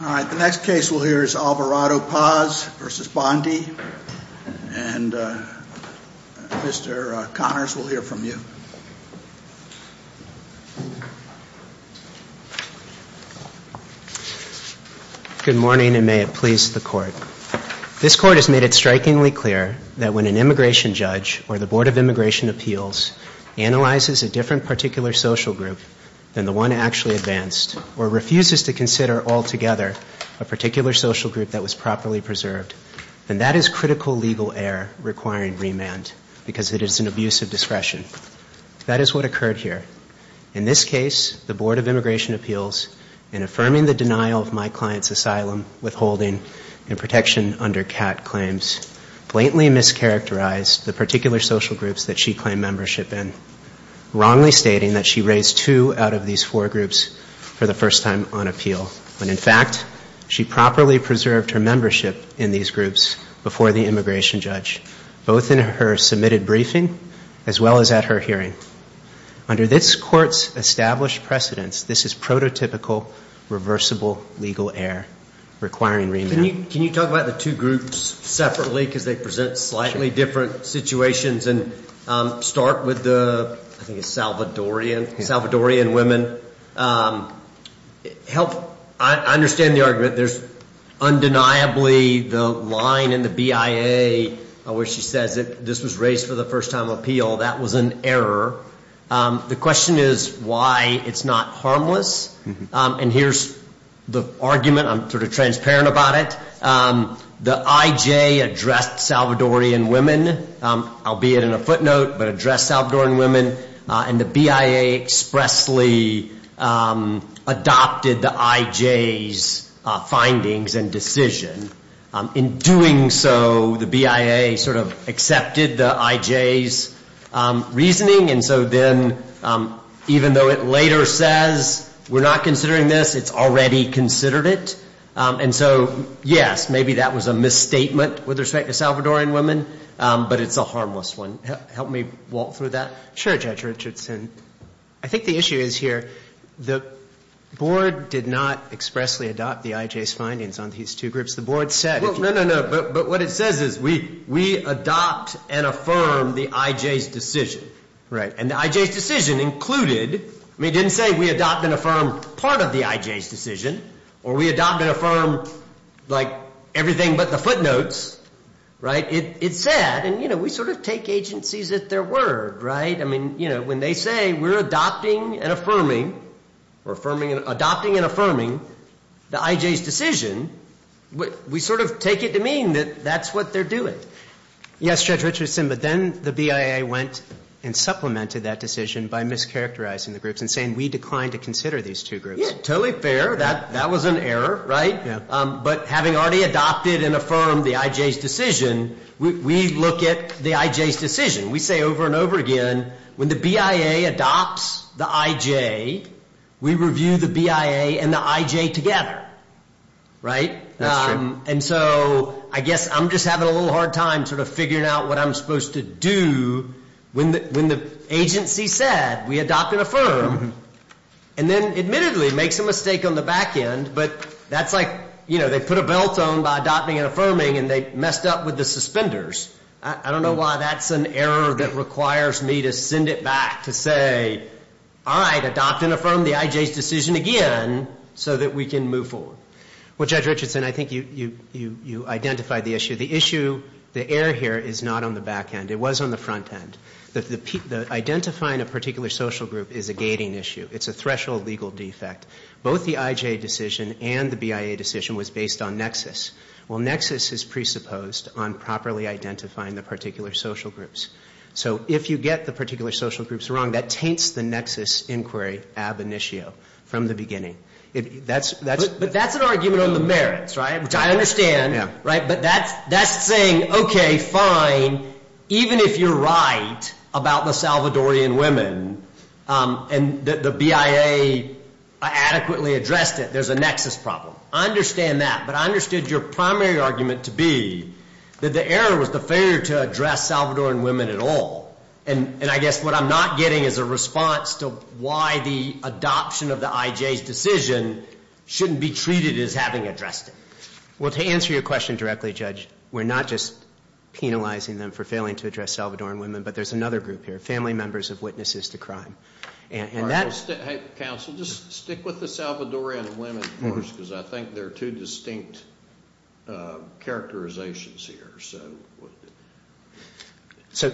All right, the next case we'll hear is Alvarado-Paz v. Bondi, and Mr. Connors, we'll hear from you. Good morning, and may it please the Court. This Court has made it strikingly clear that when an immigration judge or the Board of Immigration Appeals analyzes a different particular social group than the one actually advanced, or refuses to consider altogether a particular social group that was properly preserved, then that is critical legal error requiring remand because it is an abuse of discretion. That is what occurred here. In this case, the Board of Immigration Appeals, in affirming the denial of my client's asylum, withholding, and protection under CAT claims, blatantly mischaracterized the particular social groups that she claimed membership in, wrongly stating that she raised two out of these four groups for the first time on appeal, when in fact she properly preserved her membership in these groups before the immigration judge, both in her submitted briefing as well as at her hearing. Under this Court's established precedence, this is prototypical reversible legal error requiring remand. Can you talk about the two groups separately because they present slightly different situations and start with the Salvadorian women? I understand the argument. There's undeniably the line in the BIA where she says this was raised for the first time on appeal. That was an error. The question is why it's not harmless, and here's the argument. I'm sort of transparent about it. The IJ addressed Salvadorian women, albeit in a footnote, but addressed Salvadorian women, and the BIA expressly adopted the IJ's findings and decision. In doing so, the BIA sort of accepted the IJ's reasoning, and so then even though it later says we're not considering this, it's already considered it. And so, yes, maybe that was a misstatement with respect to Salvadorian women, but it's a harmless one. Help me walk through that. Sure, Judge Richardson. I think the issue is here the Board did not expressly adopt the IJ's findings on these two groups. No, no, no, but what it says is we adopt and affirm the IJ's decision. And the IJ's decision included, I mean, it didn't say we adopt and affirm part of the IJ's decision or we adopt and affirm, like, everything but the footnotes. It said, and we sort of take agencies at their word, right? I mean, you know, when they say we're adopting and affirming the IJ's decision, we sort of take it to mean that that's what they're doing. Yes, Judge Richardson, but then the BIA went and supplemented that decision by mischaracterizing the groups and saying we declined to consider these two groups. Yeah, totally fair. That was an error, right? Yeah. But having already adopted and affirmed the IJ's decision, we look at the IJ's decision. We say over and over again, when the BIA adopts the IJ, we review the BIA and the IJ together, right? That's true. And so I guess I'm just having a little hard time sort of figuring out what I'm supposed to do when the agency said we adopt and affirm and then admittedly makes a mistake on the back end, but that's like, you know, they put a belt on by adopting and affirming and they messed up with the suspenders. I don't know why that's an error that requires me to send it back to say, all right, adopt and affirm the IJ's decision again so that we can move forward. Well, Judge Richardson, I think you identified the issue. The issue, the error here is not on the back end. It was on the front end. The identifying a particular social group is a gating issue. It's a threshold legal defect. Both the IJ decision and the BIA decision was based on nexus. Well, nexus is presupposed on properly identifying the particular social groups. So if you get the particular social groups wrong, that taints the nexus inquiry ab initio from the beginning. But that's an argument on the merits, right, which I understand, right? But that's saying, okay, fine, even if you're right about the Salvadorian women and the BIA adequately addressed it, there's a nexus problem. I understand that. But I understood your primary argument to be that the error was the failure to address Salvadorian women at all. And I guess what I'm not getting is a response to why the adoption of the IJ's decision shouldn't be treated as having addressed it. Well, to answer your question directly, Judge, we're not just penalizing them for failing to address Salvadorian women, but there's another group here, family members of witnesses to crime. Counsel, just stick with the Salvadorian women, of course, because I think they're two distinct characterizations here. So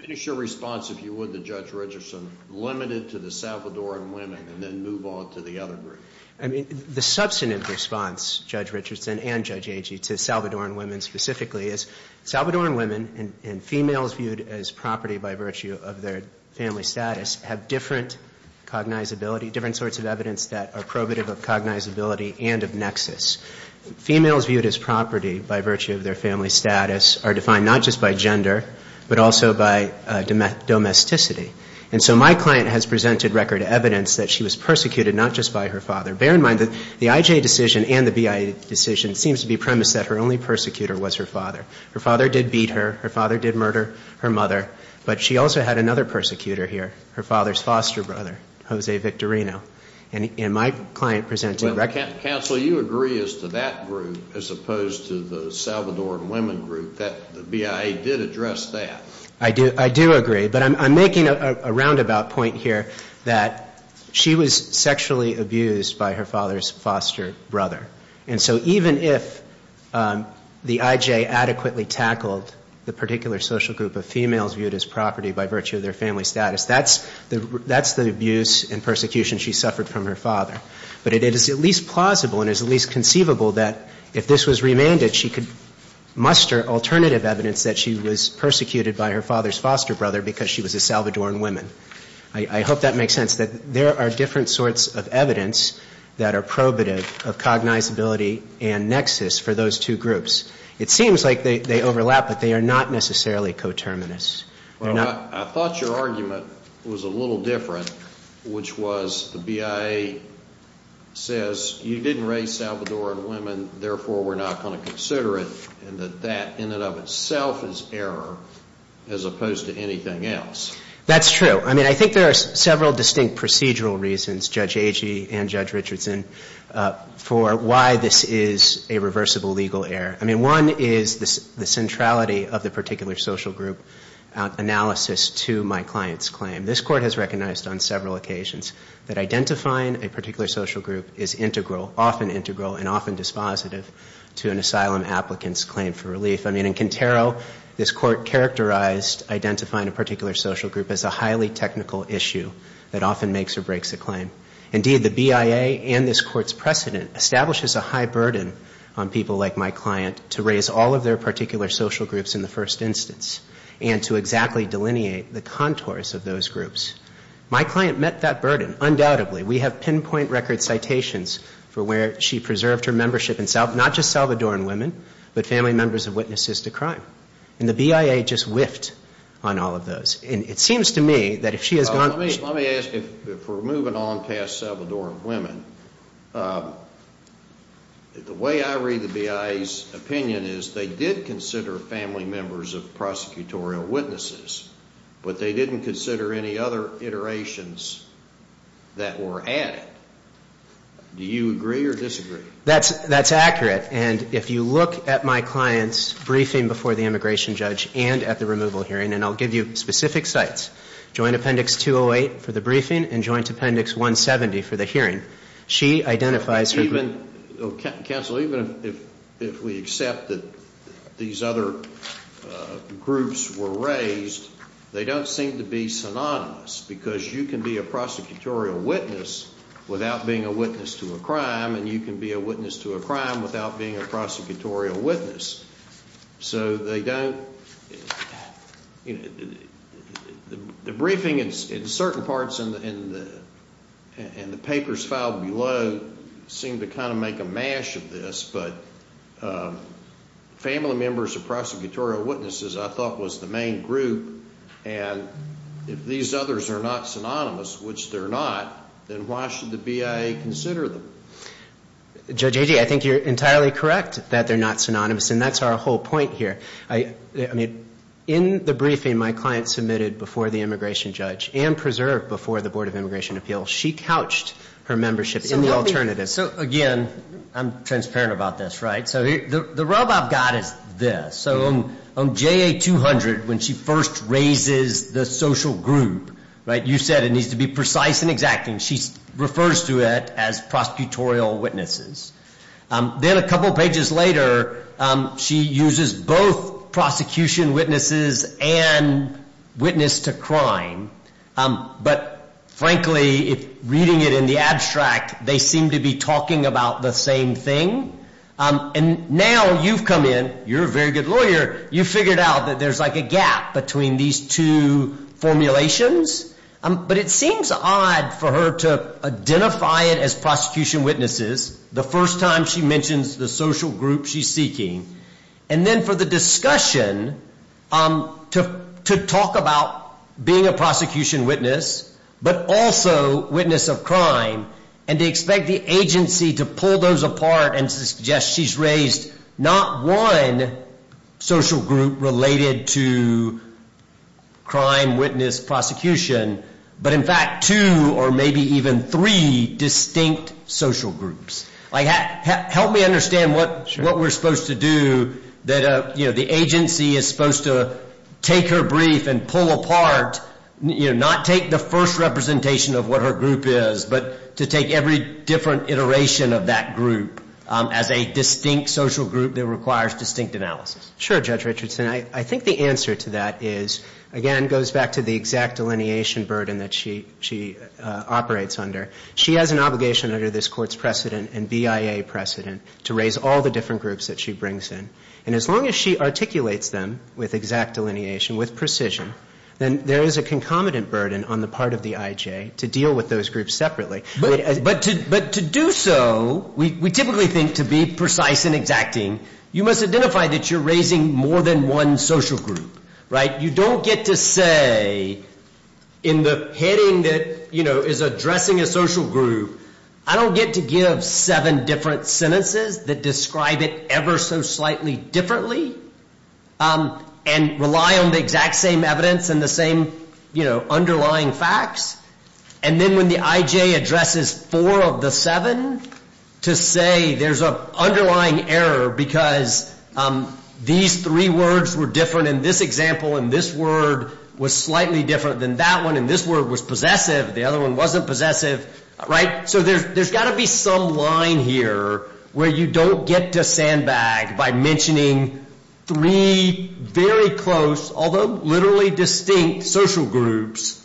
finish your response, if you would, to Judge Richardson, limit it to the Salvadorian women and then move on to the other group. I mean, the substantive response, Judge Richardson and Judge Agee, to Salvadorian women specifically is Salvadorian women and females viewed as property by virtue of their family status have different cognizability, different sorts of evidence that are probative of cognizability and of nexus. Females viewed as property by virtue of their family status are defined not just by gender, but also by domesticity. And so my client has presented record evidence that she was persecuted not just by her father. Bear in mind that the IJ decision and the BIA decision seems to be premised that her only persecutor was her father. Her father did beat her. Her father did murder her mother. But she also had another persecutor here, her father's foster brother, Jose Victorino. And my client presented record. Counsel, you agree as to that group as opposed to the Salvadorian women group that the BIA did address that. I do agree, but I'm making a roundabout point here that she was sexually abused by her father's foster brother. And so even if the IJ adequately tackled the particular social group of females viewed as property by virtue of their family status, that's the abuse and persecution she suffered from her father. But it is at least plausible and is at least conceivable that if this was remanded, she could muster alternative evidence that she was persecuted by her father's foster brother because she was a Salvadorian woman. I hope that makes sense, that there are different sorts of evidence that are probative of cognizability and nexus for those two groups. It seems like they overlap, but they are not necessarily coterminous. I thought your argument was a little different, which was the BIA says you didn't raise Salvadorian women, therefore we're not going to consider it, and that that in and of itself is error as opposed to anything else. That's true. I mean, I think there are several distinct procedural reasons, Judge Agee and Judge Richardson, for why this is a reversible legal error. I mean, one is the centrality of the particular social group analysis to my client's claim. This Court has recognized on several occasions that identifying a particular social group is integral, often integral and often dispositive to an asylum applicant's claim for relief. I mean, in Quintero, this Court characterized identifying a particular social group as a highly technical issue that often makes or breaks a claim. Indeed, the BIA and this Court's precedent establishes a high burden on people like my client to raise all of their particular social groups in the first instance and to exactly delineate the contours of those groups. My client met that burden, undoubtedly. We have pinpoint record citations for where she preserved her membership in not just Salvadoran women, but family members of witnesses to crime. And the BIA just whiffed on all of those. And it seems to me that if she has gone to the... Let me ask, if we're moving on past Salvadoran women, the way I read the BIA's opinion is they did consider family members of prosecutorial witnesses, but they didn't consider any other iterations that were added. Do you agree or disagree? That's accurate. And if you look at my client's briefing before the immigration judge and at the removal hearing, and I'll give you specific sites, Joint Appendix 208 for the briefing and Joint Appendix 170 for the hearing, she identifies her group... Counsel, even if we accept that these other groups were raised, they don't seem to be synonymous because you can be a prosecutorial witness without being a witness to a crime and you can be a witness to a crime without being a prosecutorial witness. So they don't... The briefing in certain parts and the papers filed below seem to kind of make a mash of this, but family members of prosecutorial witnesses I thought was the main group, and if these others are not synonymous, which they're not, then why should the BIA consider them? Judge Agee, I think you're entirely correct that they're not synonymous, and that's our whole point here. I mean, in the briefing my client submitted before the immigration judge and preserved before the Board of Immigration Appeals, she couched her membership in the alternative. So again, I'm transparent about this, right? So the rub I've got is this. So on JA 200, when she first raises the social group, right, you said it needs to be precise and exact, and she refers to it as prosecutorial witnesses. Then a couple pages later, she uses both prosecution witnesses and witness to crime, but frankly, reading it in the abstract, they seem to be talking about the same thing. And now you've come in, you're a very good lawyer, you've figured out that there's like a gap between these two formulations, but it seems odd for her to identify it as prosecution witnesses the first time she mentions the social group she's seeking, and then for the discussion to talk about being a prosecution witness but also witness of crime and to expect the agency to pull those apart and suggest she's raised not one social group related to crime, witness, prosecution, but in fact two or maybe even three distinct social groups. Help me understand what we're supposed to do, that the agency is supposed to take her brief and pull apart, not take the first representation of what her group is, but to take every different iteration of that group as a distinct social group that requires distinct analysis. Sure, Judge Richardson. I think the answer to that is, again, goes back to the exact delineation burden that she operates under. She has an obligation under this Court's precedent and BIA precedent to raise all the different groups that she brings in. And as long as she articulates them with exact delineation, with precision, then there is a concomitant burden on the part of the IJ to deal with those groups separately. But to do so, we typically think to be precise and exacting, you must identify that you're raising more than one social group, right? You don't get to say in the heading that, you know, is addressing a social group, I don't get to give seven different sentences that describe it ever so slightly differently and rely on the exact same evidence and the same, you know, underlying facts. And then when the IJ addresses four of the seven to say there's an underlying error because these three words were different in this example and this word was slightly different than that one and this word was possessive, the other one wasn't possessive, right? So there's got to be some line here where you don't get to sandbag by mentioning three very close, although literally distinct, social groups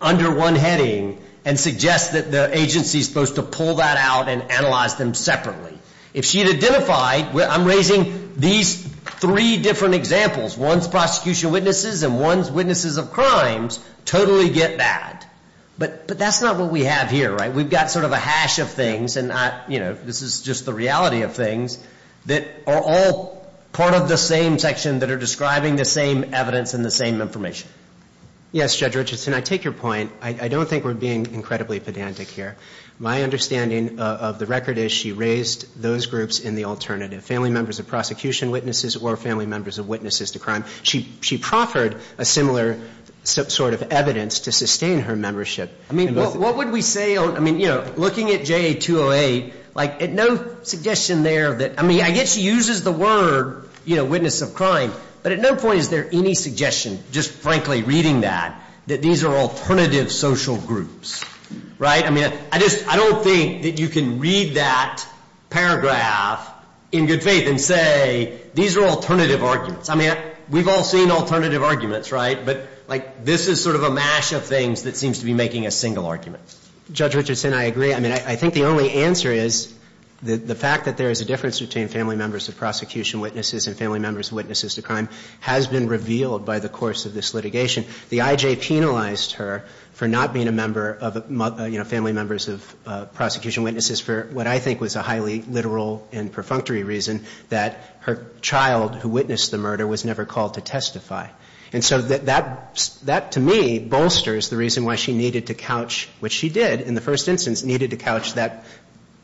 under one heading and suggest that the agency is supposed to pull that out and analyze them separately. If she had identified, I'm raising these three different examples, one's prosecution witnesses and one's witnesses of crimes, totally get that. But that's not what we have here, right? We've got sort of a hash of things and, you know, this is just the reality of things that are all part of the same section that are describing the same evidence and the same information. Yes, Judge Richardson, I take your point. I don't think we're being incredibly pedantic here. My understanding of the record is she raised those groups in the alternative, family members of prosecution witnesses or family members of witnesses to crime. She proffered a similar sort of evidence to sustain her membership. I mean, what would we say on, I mean, you know, looking at JA-208, like no suggestion there that, I mean, I guess she uses the word, you know, witness of crime, but at no point is there any suggestion, just frankly reading that, that these are alternative social groups, right? I mean, I just don't think that you can read that paragraph in good faith and say these are alternative arguments. I mean, we've all seen alternative arguments, right? But, like, this is sort of a mash of things that seems to be making a single argument. Judge Richardson, I agree. I mean, I think the only answer is the fact that there is a difference between family members of prosecution witnesses and family members of witnesses to crime has been revealed by the course of this litigation. The IJ penalized her for not being a member of, you know, family members of prosecution witnesses for what I think was a highly literal and perfunctory reason, that her child who witnessed the murder was never called to testify. And so that, to me, bolsters the reason why she needed to couch, which she did in the first instance, needed to couch that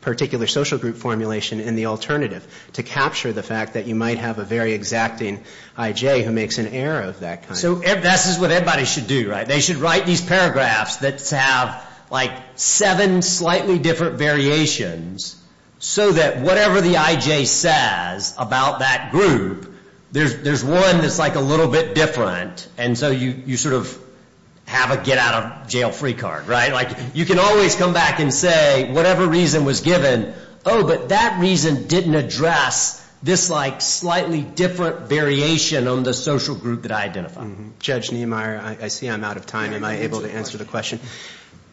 particular social group formulation in the alternative to capture the fact that you might have a very exacting IJ who makes an error of that kind. So this is what everybody should do, right? They should write these paragraphs that have, like, seven slightly different variations so that whatever the IJ says about that group, there's one that's, like, a little bit different. And so you sort of have a get-out-of-jail-free card, right? Like, you can always come back and say whatever reason was given, oh, but that reason didn't address this, like, slightly different variation on the social group that I identified. Judge Niemeyer, I see I'm out of time. Am I able to answer the question?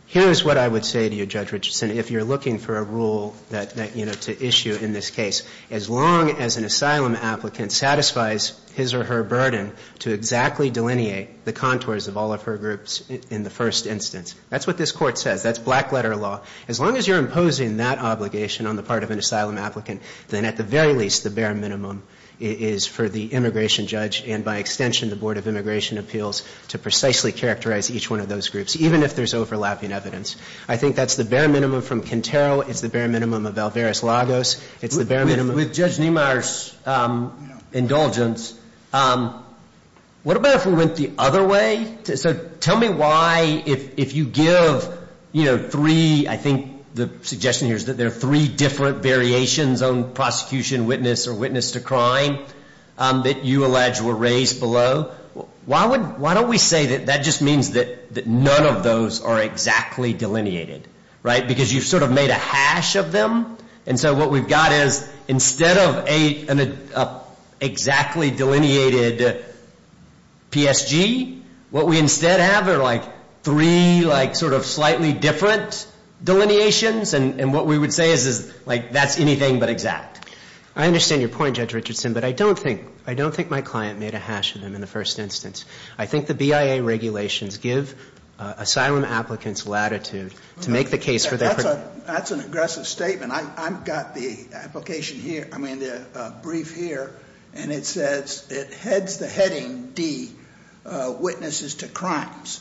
Here's what I would say to you, Judge Richardson, if you're looking for a rule that, you know, to issue in this case, as long as an asylum applicant satisfies his or her burden to exactly delineate the contours of all of her groups in the first instance. That's what this Court says. That's black-letter law. As long as you're imposing that obligation on the part of an asylum applicant, then at the very least, the bare minimum is for the immigration judge and, by extension, the Board of Immigration Appeals to precisely characterize each one of those groups, even if there's overlapping evidence. I think that's the bare minimum from Quintero. It's the bare minimum of Alvarez-Lagos. It's the bare minimum of — With Judge Niemeyer's indulgence, what about if we went the other way? So tell me why, if you give, you know, three, I think the suggestion here is that there are three different variations on prosecution, witness, or witness to crime that you allege were raised below. Why don't we say that that just means that none of those are exactly delineated, right, because you've sort of made a hash of them? And so what we've got is instead of an exactly delineated PSG, what we instead have are, like, three, like, sort of slightly different delineations, and what we would say is, like, that's anything but exact. I understand your point, Judge Richardson, but I don't think — I don't think my client made a hash of them in the first instance. I think the BIA regulations give asylum applicants latitude to make the case for their — That's an aggressive statement. I've got the application here — I mean, the brief here, and it says — it heads the heading D, witnesses to crimes.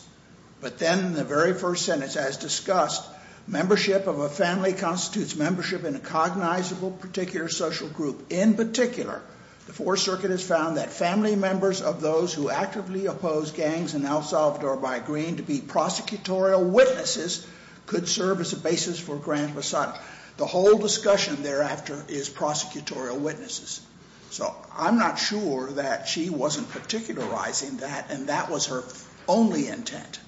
But then the very first sentence, as discussed, membership of a family constitutes membership in a cognizable particular social group. In particular, the Fourth Circuit has found that family members of those who actively oppose gangs in El Salvador by agreeing to be prosecutorial witnesses could serve as a basis for grand recital. The whole discussion thereafter is prosecutorial witnesses. So I'm not sure that she wasn't particularizing that, and that was her only intent.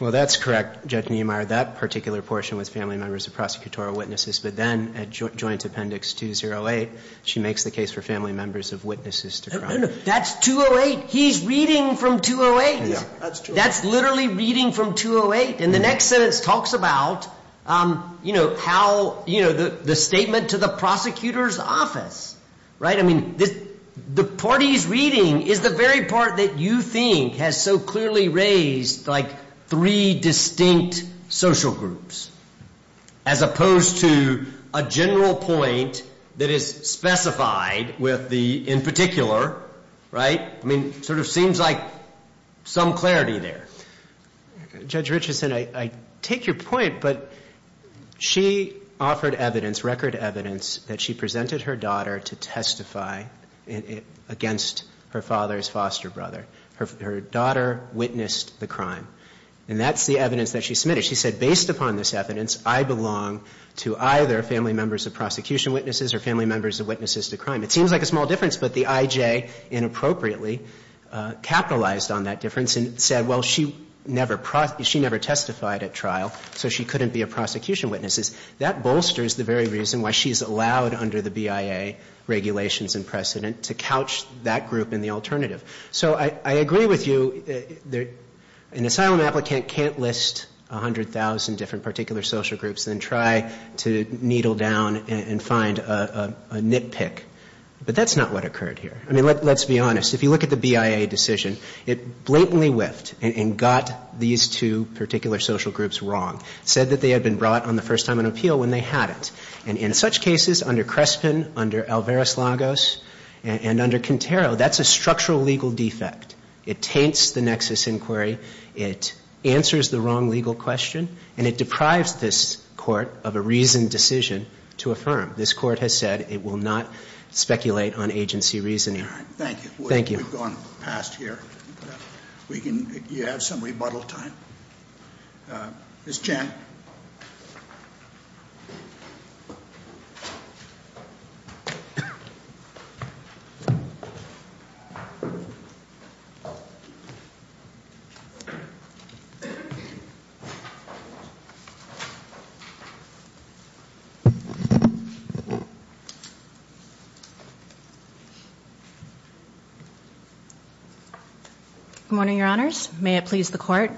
Well, that's correct, Judge Niemeyer. That particular portion was family members of prosecutorial witnesses, but then at Joint Appendix 208, she makes the case for family members of witnesses to crime. No, no, that's 208. He's reading from 208. Yeah, that's true. That's literally reading from 208. And the next sentence talks about, you know, how — you know, the statement to the prosecutor's office, right? I mean, the party's reading is the very part that you think has so clearly raised, like, three distinct social groups as opposed to a general point that is specified with the in particular, right? I mean, it sort of seems like some clarity there. Judge Richardson, I take your point, but she offered evidence, record evidence, that she presented her daughter to testify against her father's foster brother. Her daughter witnessed the crime. And that's the evidence that she submitted. She said, based upon this evidence, I belong to either family members of prosecution witnesses or family members of witnesses to crime. It seems like a small difference, but the I.J. inappropriately capitalized on that difference and said, well, she never — she never testified at trial, so she couldn't be a prosecution witness. That bolsters the very reason why she's allowed under the BIA regulations and precedent to couch that group in the alternative. So I agree with you. An asylum applicant can't list 100,000 different particular social groups and try to needle down and find a nitpick. But that's not what occurred here. I mean, let's be honest. If you look at the BIA decision, it blatantly whiffed and got these two particular social groups wrong. It said that they had been brought on the first time on appeal when they hadn't. And in such cases, under Crespin, under Alvarez-Lagos, and under Quintero, that's a structural legal defect. It taints the nexus inquiry. It answers the wrong legal question. And it deprives this Court of a reasoned decision to affirm. This Court has said it will not speculate on agency reasoning. Thank you. Thank you. We've gone past here. We can — you have some rebuttal time. Ms. Chan. Good morning, Your Honors. May it please the Court,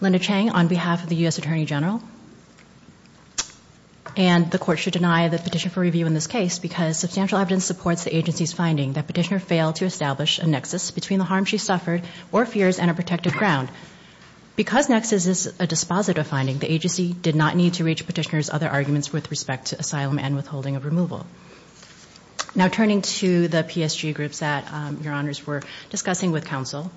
Linda Chang, on behalf of the U.S. Attorney General. And the Court should deny the petition for review in this case because substantial evidence supports the agency's finding that Petitioner failed to establish a nexus between the harm she suffered or fears and a protected ground. Because nexus is a dispositive finding, the agency did not need to reach Petitioner's other arguments with respect to asylum and withholding of removal. Now, turning to the PSG groups that Your Honors were discussing with counsel,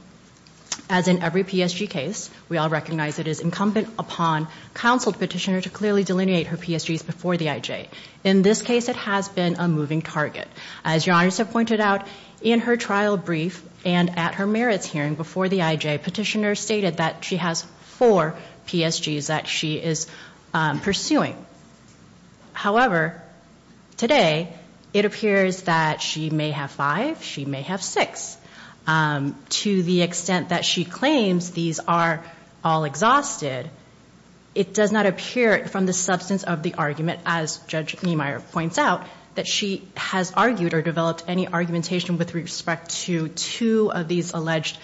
as in every PSG case, we all recognize it is incumbent upon counsel to Petitioner to clearly delineate her PSGs before the IJ. In this case, it has been a moving target. As Your Honors have pointed out, in her trial brief and at her merits hearing before the IJ, Petitioner stated that she has four PSGs that she is pursuing. However, today, it appears that she may have five, she may have six. To the extent that she claims these are all exhausted, it does not appear from the substance of the argument, as Judge Niemeyer points out, that she has argued or developed any argumentation with respect to two of these alleged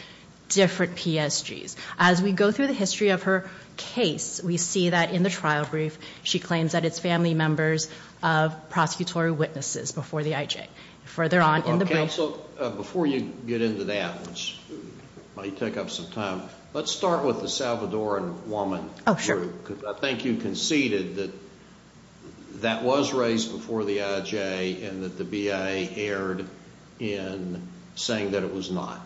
different PSGs. As we go through the history of her case, we see that in the trial brief, she claims that it's family members of prosecutorial witnesses before the IJ. Further on in the brief. Counsel, before you get into that, which might take up some time, let's start with the Salvadoran woman. Oh, sure. I think you conceded that that was raised before the IJ and that the BIA erred in saying that it was not.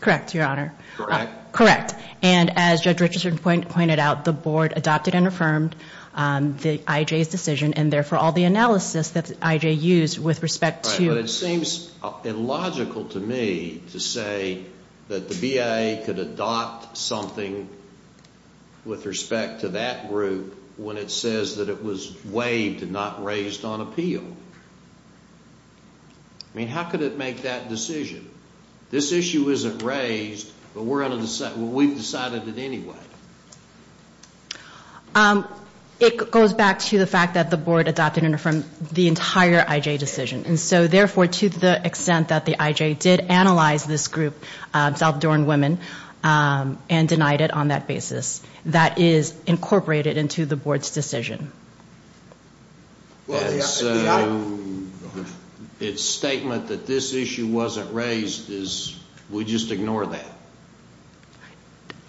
Correct, Your Honor. Correct? And as Judge Richardson pointed out, the Board adopted and affirmed the IJ's decision, and therefore all the analysis that the IJ used with respect to. Right, but it seems illogical to me to say that the BIA could adopt something with respect to that group when it says that it was waived and not raised on appeal. I mean, how could it make that decision? This issue isn't raised, but we're going to decide, well, we've decided it anyway. It goes back to the fact that the Board adopted and affirmed the entire IJ decision. And so, therefore, to the extent that the IJ did analyze this group, Salvadoran women, and denied it on that basis, that is incorporated into the Board's decision. Its statement that this issue wasn't raised is, we just ignore that.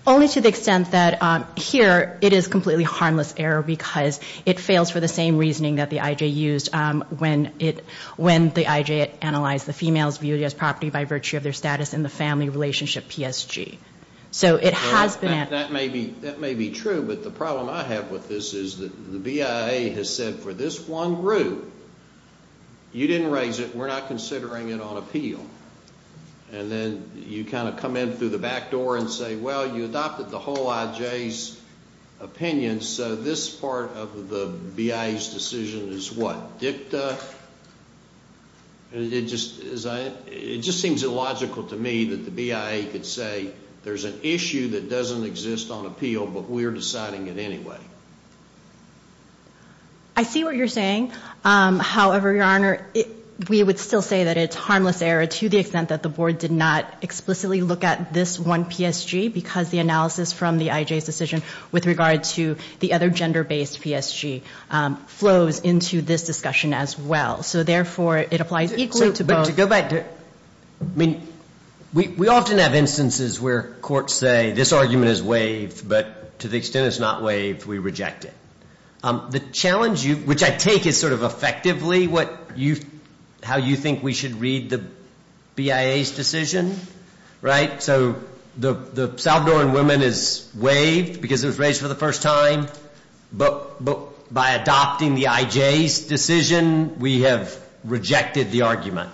Only to the extent that here it is completely harmless error because it fails for the same reasoning that the IJ used when the IJ analyzed the females viewed as property by virtue of their status in the family relationship PSG. So it has been. That may be true, but the problem I have with this is that the BIA has said for this one group, you didn't raise it, we're not considering it on appeal. And then you kind of come in through the back door and say, well, you adopted the whole IJ's opinion, so this part of the BIA's decision is what, dicta? It just seems illogical to me that the BIA could say there's an issue that doesn't exist on appeal, but we're deciding it anyway. I see what you're saying. However, Your Honor, we would still say that it's harmless error to the extent that the Board did not explicitly look at this one PSG because the analysis from the IJ's decision with regard to the other gender-based PSG flows into this discussion as well. So therefore, it applies equally to both. But to go back to, I mean, we often have instances where courts say this argument is waived, but to the extent it's not waived, we reject it. The challenge, which I take is sort of effectively how you think we should read the BIA's decision, right? So the Salvadoran woman is waived because it was raised for the first time, but by adopting the IJ's decision, we have rejected the argument.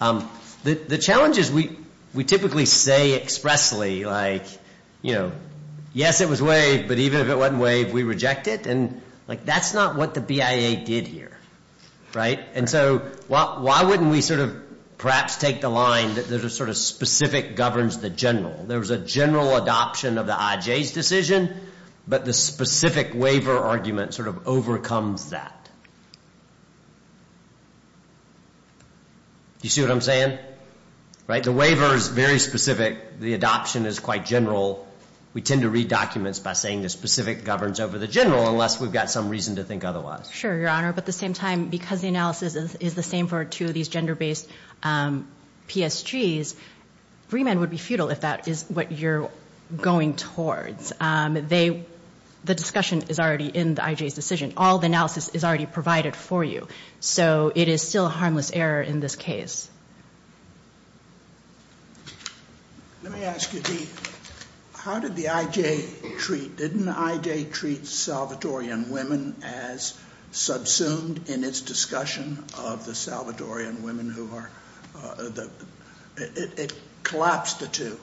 The challenge is we typically say expressly, like, yes, it was waived, but even if it wasn't waived, we reject it. And, like, that's not what the BIA did here, right? And so why wouldn't we sort of perhaps take the line that there's a sort of specific governs the general? There was a general adoption of the IJ's decision, but the specific waiver argument sort of overcomes that. Do you see what I'm saying? The waiver is very specific. The adoption is quite general. We tend to read documents by saying the specific governs over the general unless we've got some reason to think otherwise. Sure, Your Honor. But at the same time, because the analysis is the same for two of these gender-based PSGs, remand would be futile if that is what you're going towards. The discussion is already in the IJ's decision. All the analysis is already provided for you. So it is still a harmless error in this case. Let me ask you, Dee, how did the IJ treat, didn't the IJ treat Salvatorian women as subsumed in its discussion of the Salvatorian women who are, it collapsed the two.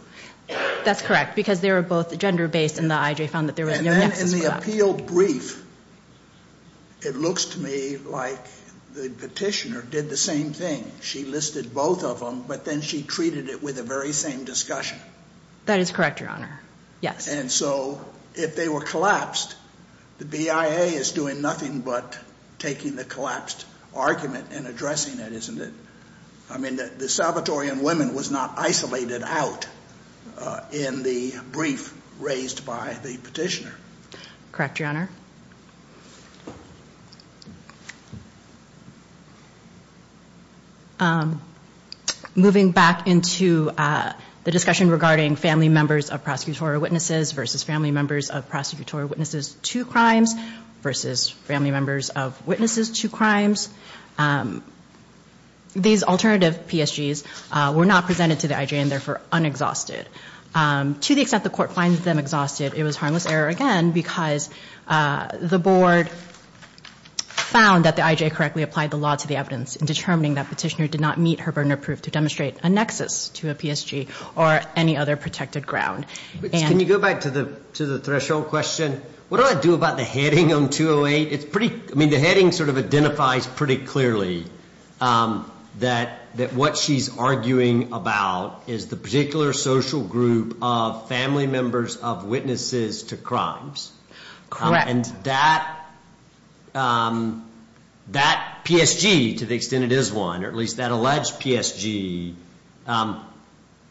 That's correct, because they were both gender-based and the IJ found that there was no nexus for that. And then in the appeal brief, it looks to me like the petitioner did the same thing. She listed both of them, but then she treated it with the very same discussion. That is correct, Your Honor. Yes. And so if they were collapsed, the BIA is doing nothing but taking the collapsed argument and addressing it, isn't it? I mean, the Salvatorian women was not isolated out in the brief raised by the petitioner. Correct, Your Honor. Moving back into the discussion regarding family members of prosecutorial witnesses versus family members of prosecutorial witnesses to crimes versus family members of witnesses to crimes. These alternative PSGs were not presented to the IJ and therefore unexhausted. To the extent the court finds them exhausted, it was harmless error again, because the board found that the IJ correctly applied the law to the evidence in determining that petitioner did not meet her burden of proof to demonstrate a nexus to a PSG or any other protected ground. Can you go back to the threshold question? What do I do about the heading on 208? It's pretty, I mean, the heading sort of identifies pretty clearly that what she's arguing about is the particular social group of family members of witnesses to crimes. And that PSG, to the extent it is one, or at least that alleged PSG,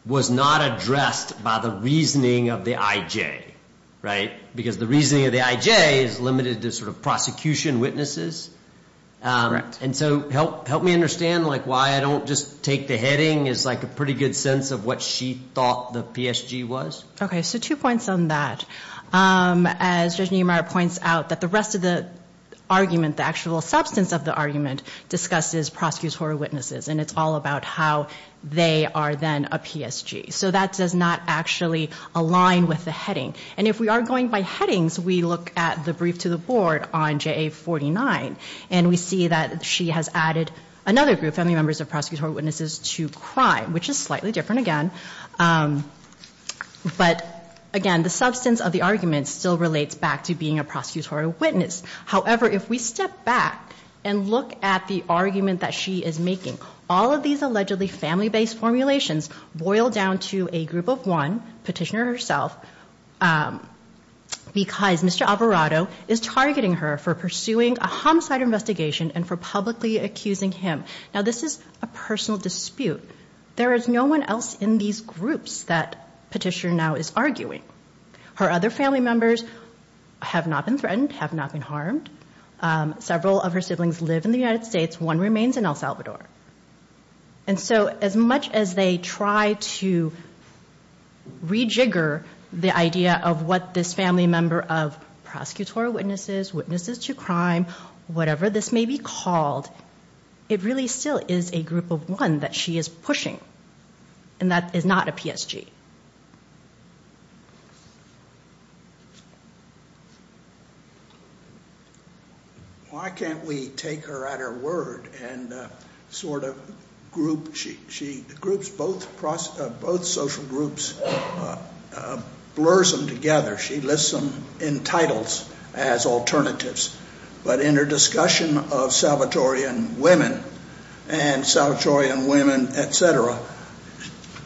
was not addressed by the reasoning of the IJ, right? Because the reasoning of the IJ is limited to sort of prosecution witnesses. Correct. And so help me understand, like, why I don't just take the heading as like a pretty good sense of what she thought the PSG was? Okay, so two points on that. As Judge Niemeyer points out, that the rest of the argument, the actual substance of the argument, discusses prosecutorial witnesses, and it's all about how they are then a PSG. So that does not actually align with the heading. And if we are going by headings, we look at the brief to the board on JA 49, and we see that she has added another group, family members of prosecutorial witnesses, to crime, which is slightly different, again. But, again, the substance of the argument still relates back to being a prosecutorial witness. However, if we step back and look at the argument that she is making, all of these allegedly family-based formulations boil down to a group of one, petitioner herself, because Mr. Alvarado is targeting her for pursuing a homicide investigation and for publicly accusing him. Now, this is a personal dispute. There is no one else in these groups that petitioner now is arguing. Her other family members have not been threatened, have not been harmed. Several of her siblings live in the United States. One remains in El Salvador. And so as much as they try to rejigger the idea of what this family member of prosecutorial witnesses, witnesses to crime, whatever this may be called, it really still is a group of one that she is pushing, and that is not a PSG. Why can't we take her at her word and sort of group? She groups both social groups, blurs them together. She lists them in titles as alternatives. But in her discussion of Salvatorean women and Salvatorean women, et cetera,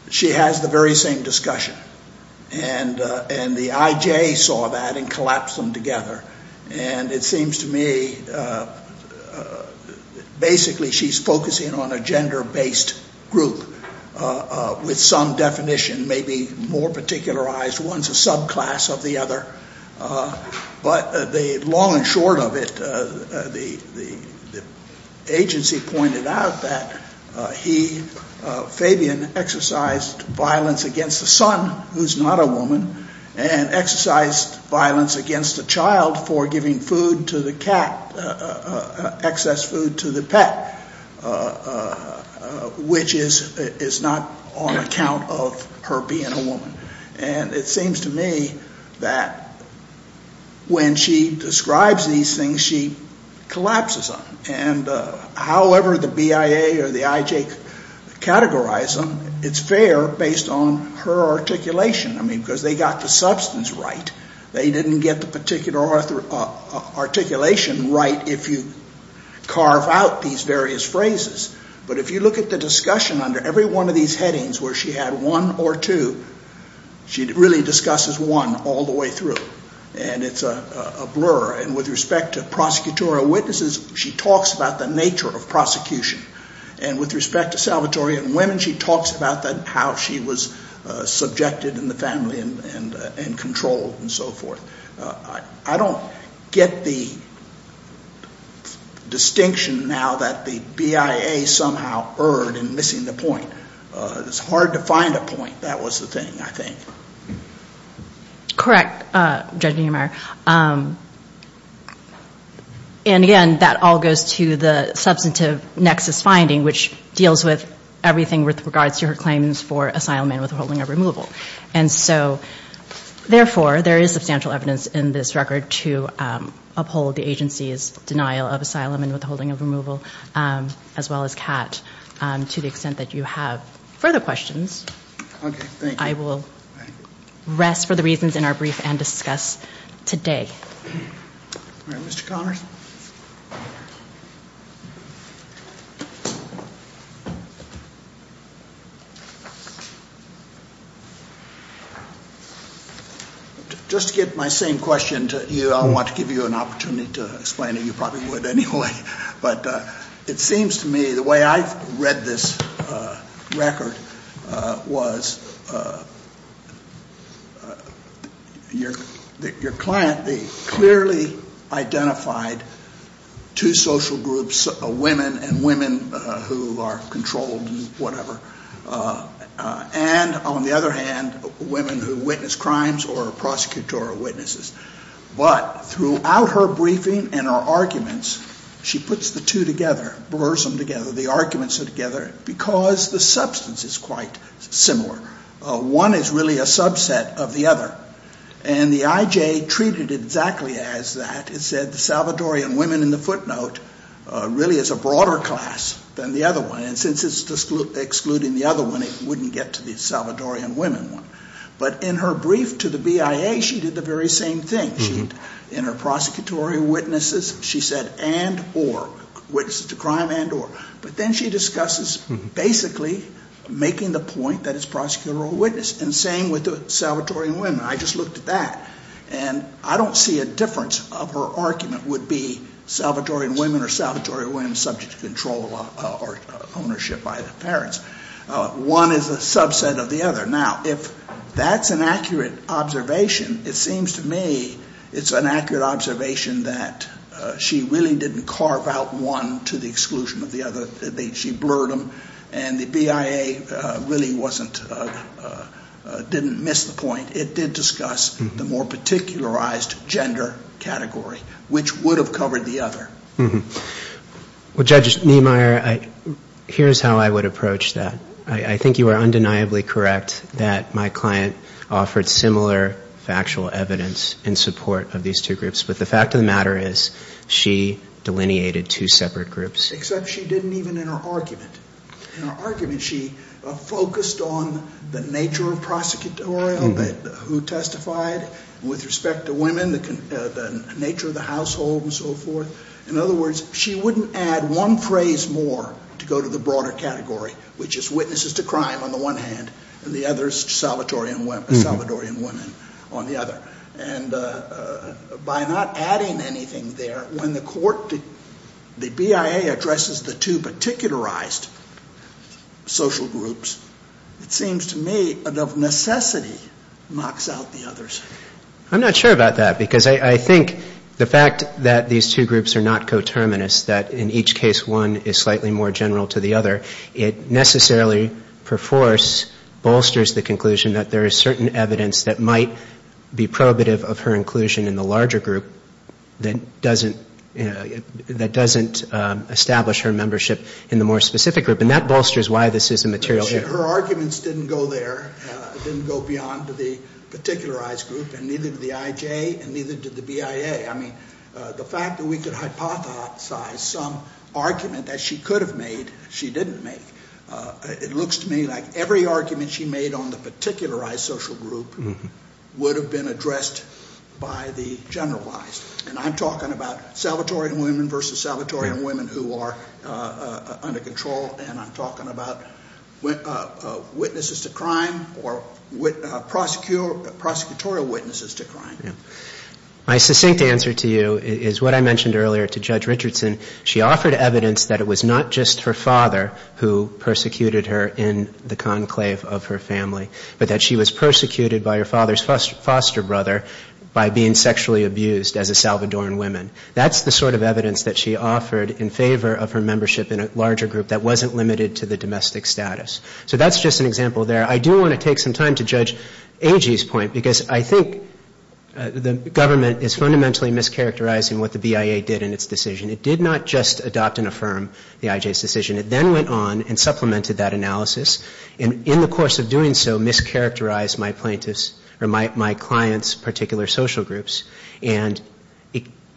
she has the very same discussion. And the IJ saw that and collapsed them together. And it seems to me basically she's focusing on a gender-based group with some definition, maybe more particularized. One's a subclass of the other. But the long and short of it, the agency pointed out that he, Fabian, exercised violence against the son who's not a woman and exercised violence against the child for giving food to the cat, excess food to the pet, which is not on account of her being a woman. And it seems to me that when she describes these things, she collapses them. And however the BIA or the IJ categorize them, it's fair based on her articulation. I mean, because they got the substance right. They didn't get the particular articulation right if you carve out these various phrases. But if you look at the discussion under every one of these headings where she had one or two, she really discusses one all the way through. And it's a blur. And with respect to prosecutorial witnesses, she talks about the nature of prosecution. And with respect to Salvatorean women, she talks about how she was subjected in the family and controlled and so forth. I don't get the distinction now that the BIA somehow erred in missing the point. It's hard to find a point. That was the thing, I think. Correct, Judge Niemeyer. And, again, that all goes to the substantive nexus finding, which deals with everything with regards to her claims for asylum and withholding of removal. And so, therefore, there is substantial evidence in this record to uphold the agency's denial of asylum and withholding of removal, as well as CAT, to the extent that you have further questions. Okay, thank you. I will rest for the reasons in our brief and discuss today. All right, Mr. Connors. Just to get my same question to you, I want to give you an opportunity to explain it. You probably would anyway. But it seems to me the way I read this record was that your client clearly identified two social groups, women and women who are controlled and whatever, and, on the other hand, women who witness crimes or are prosecutorial witnesses. But throughout her briefing and her arguments, she puts the two together, blurs them together, the arguments are together, because the substance is quite similar. One is really a subset of the other. And the IJ treated it exactly as that. It said the Salvadorian women in the footnote really is a broader class than the other one. And since it's excluding the other one, it wouldn't get to the Salvadorian women one. But in her brief to the BIA, she did the very same thing. In her prosecutorial witnesses, she said and, or, witnesses to crime and or. But then she discusses basically making the point that it's prosecutorial witness. And the same with the Salvadorian women. I just looked at that. And I don't see a difference of her argument would be Salvadorian women or Salvadorian women subject to control or ownership by the parents. One is a subset of the other. Now, if that's an accurate observation, it seems to me it's an accurate observation that she really didn't carve out one to the exclusion of the other. She blurred them. And the BIA really wasn't, didn't miss the point. It did discuss the more particularized gender category, which would have covered the other. Well, Judge Niemeyer, here's how I would approach that. I think you are undeniably correct that my client offered similar factual evidence in support of these two groups. But the fact of the matter is she delineated two separate groups. Except she didn't even in her argument. In her argument, she focused on the nature of prosecutorial, who testified with respect to women, the nature of the household and so forth. In other words, she wouldn't add one phrase more to go to the broader category, which is witnesses to crime on the one hand and the other is Salvadorian women on the other. And by not adding anything there, when the court, the BIA addresses the two particularized social groups, it seems to me of necessity knocks out the others. I'm not sure about that because I think the fact that these two groups are not coterminous, that in each case one is slightly more general to the other, it necessarily perforce bolsters the conclusion that there is certain evidence that might be prohibitive of her inclusion in the larger group that doesn't establish her membership in the more specific group. And that bolsters why this is a material issue. Her arguments didn't go there. It didn't go beyond the particularized group and neither did the IJ and neither did the BIA. I mean, the fact that we could hypothesize some argument that she could have made, she didn't make. It looks to me like every argument she made on the particularized social group would have been addressed by the generalized. And I'm talking about Salvadorian women versus Salvadorian women who are under control and I'm talking about witnesses to crime or prosecutorial witnesses to crime. My succinct answer to you is what I mentioned earlier to Judge Richardson. She offered evidence that it was not just her father who persecuted her in the conclave of her family, but that she was persecuted by her father's foster brother by being sexually abused as a Salvadorian woman. That's the sort of evidence that she offered in favor of her membership in a larger group that wasn't limited to the domestic status. So that's just an example there. I do want to take some time to judge AG's point because I think the government is fundamentally mischaracterizing what the BIA did in its decision. It did not just adopt and affirm the IJ's decision. It then went on and supplemented that analysis and in the course of doing so, mischaracterized my client's particular social groups and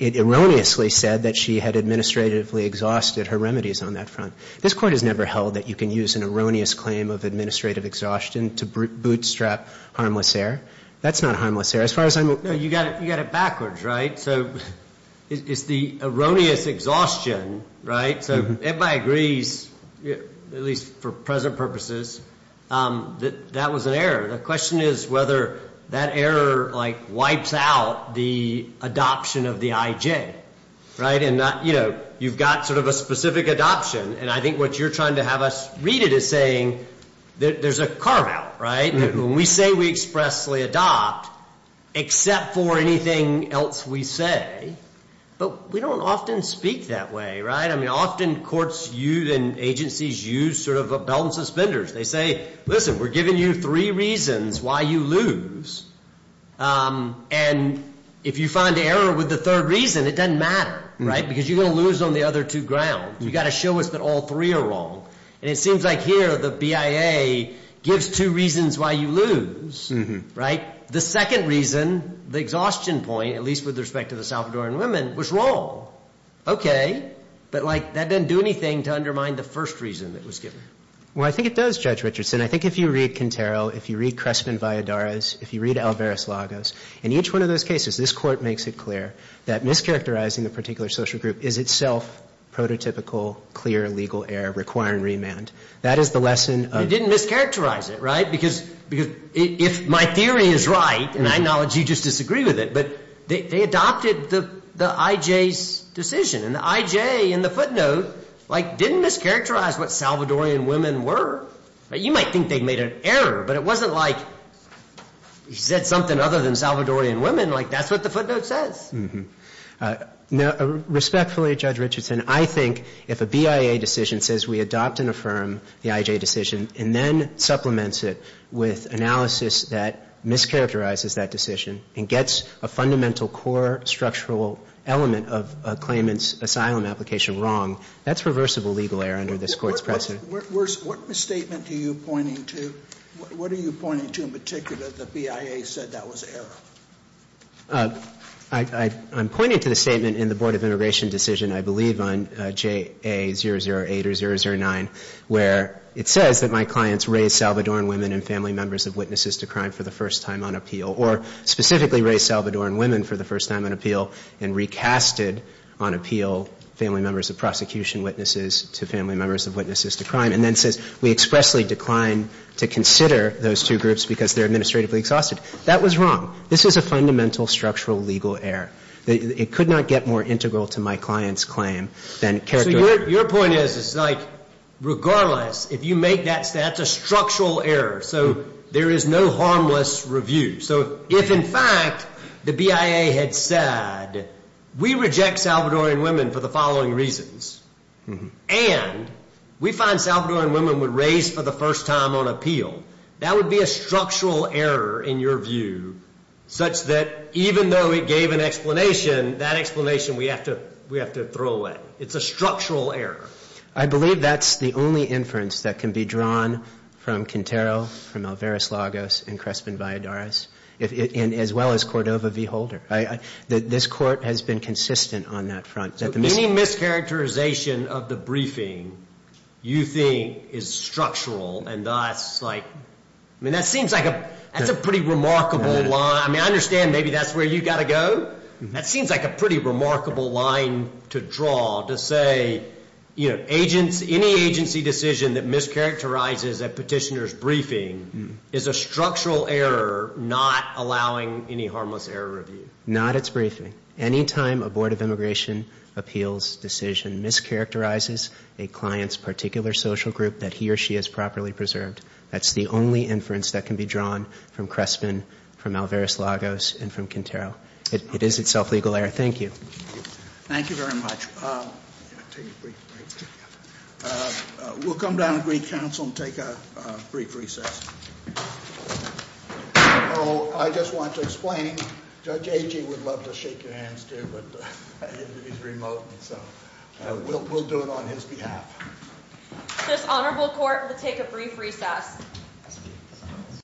it erroneously said that she had administratively exhausted her remedies on that front. This Court has never held that you can use an erroneous claim of administrative exhaustion to bootstrap harmless error. That's not harmless error. As far as I'm aware. You got it backwards, right? So it's the erroneous exhaustion, right? Everybody agrees, at least for present purposes, that that was an error. The question is whether that error wipes out the adoption of the IJ, right? You've got sort of a specific adoption and I think what you're trying to have us read it as saying there's a carve out, right? When we say we expressly adopt, except for anything else we say, but we don't often speak that way, right? Often courts and agencies use sort of a belt and suspenders. They say, listen, we're giving you three reasons why you lose and if you find error with the third reason, it doesn't matter, right? Because you're going to lose on the other two grounds. You've got to show us that all three are wrong. And it seems like here the BIA gives two reasons why you lose, right? The second reason, the exhaustion point, at least with respect to the Salvadoran women, was wrong. Okay. But, like, that doesn't do anything to undermine the first reason that was given. Well, I think it does, Judge Richardson. I think if you read Quintero, if you read Crestman-Valladares, if you read Alvarez-Lagos, in each one of those cases this Court makes it clear that mischaracterizing the particular social group is itself prototypical clear legal error requiring remand. That is the lesson of the court. You didn't mischaracterize it, right? Because if my theory is right, and I acknowledge you just disagree with it, but they adopted the IJ's decision, and the IJ in the footnote, like, didn't mischaracterize what Salvadoran women were. You might think they made an error, but it wasn't like he said something other than Salvadoran women. Like, that's what the footnote says. Respectfully, Judge Richardson, I think if a BIA decision says we adopt and affirm the IJ decision and then supplements it with analysis that mischaracterizes that decision and gets a fundamental core structural element of a claimant's asylum application wrong, that's reversible legal error under this Court's precedent. What statement are you pointing to? What are you pointing to in particular that the BIA said that was error? I'm pointing to the statement in the Board of Immigration Decision, I believe, on JA008 or 009, where it says that my clients raised Salvadoran women and family members of witnesses to crime for the first time on appeal, or specifically raised Salvadoran women for the first time on appeal and recasted on appeal family members of prosecution witnesses to family members of witnesses to crime, and then says we expressly decline to consider those two groups because they're administratively exhausted. That was wrong. This is a fundamental structural legal error. It could not get more integral to my client's claim than characterizing. So your point is, it's like, regardless, if you make that statement, that's a structural error. So there is no harmless review. So if, in fact, the BIA had said, we reject Salvadoran women for the following reasons, and we find Salvadoran women were raised for the first time on appeal, that would be a structural error in your view, such that even though it gave an explanation, that explanation we have to throw away. It's a structural error. I believe that's the only inference that can be drawn from Quintero, from Alvarez-Lagos, and Crespin-Valladares, as well as Cordova v. Holder. This court has been consistent on that front. Any mischaracterization of the briefing you think is structural and thus, like, I mean, that seems like a pretty remarkable line. I mean, I understand maybe that's where you've got to go. But that seems like a pretty remarkable line to draw, to say, you know, any agency decision that mischaracterizes a petitioner's briefing is a structural error not allowing any harmless error review. Not its briefing. Any time a Board of Immigration Appeals decision mischaracterizes a client's particular social group that he or she has properly preserved, that's the only inference that can be drawn from Crespin, from Alvarez-Lagos, and from Quintero. It is itself legal error. Thank you. Thank you very much. We'll come down to Greek Council and take a brief recess. Oh, I just want to explain. Judge Agee would love to shake your hands too, but he's remote, so we'll do it on his behalf. This honorable court will take a brief recess.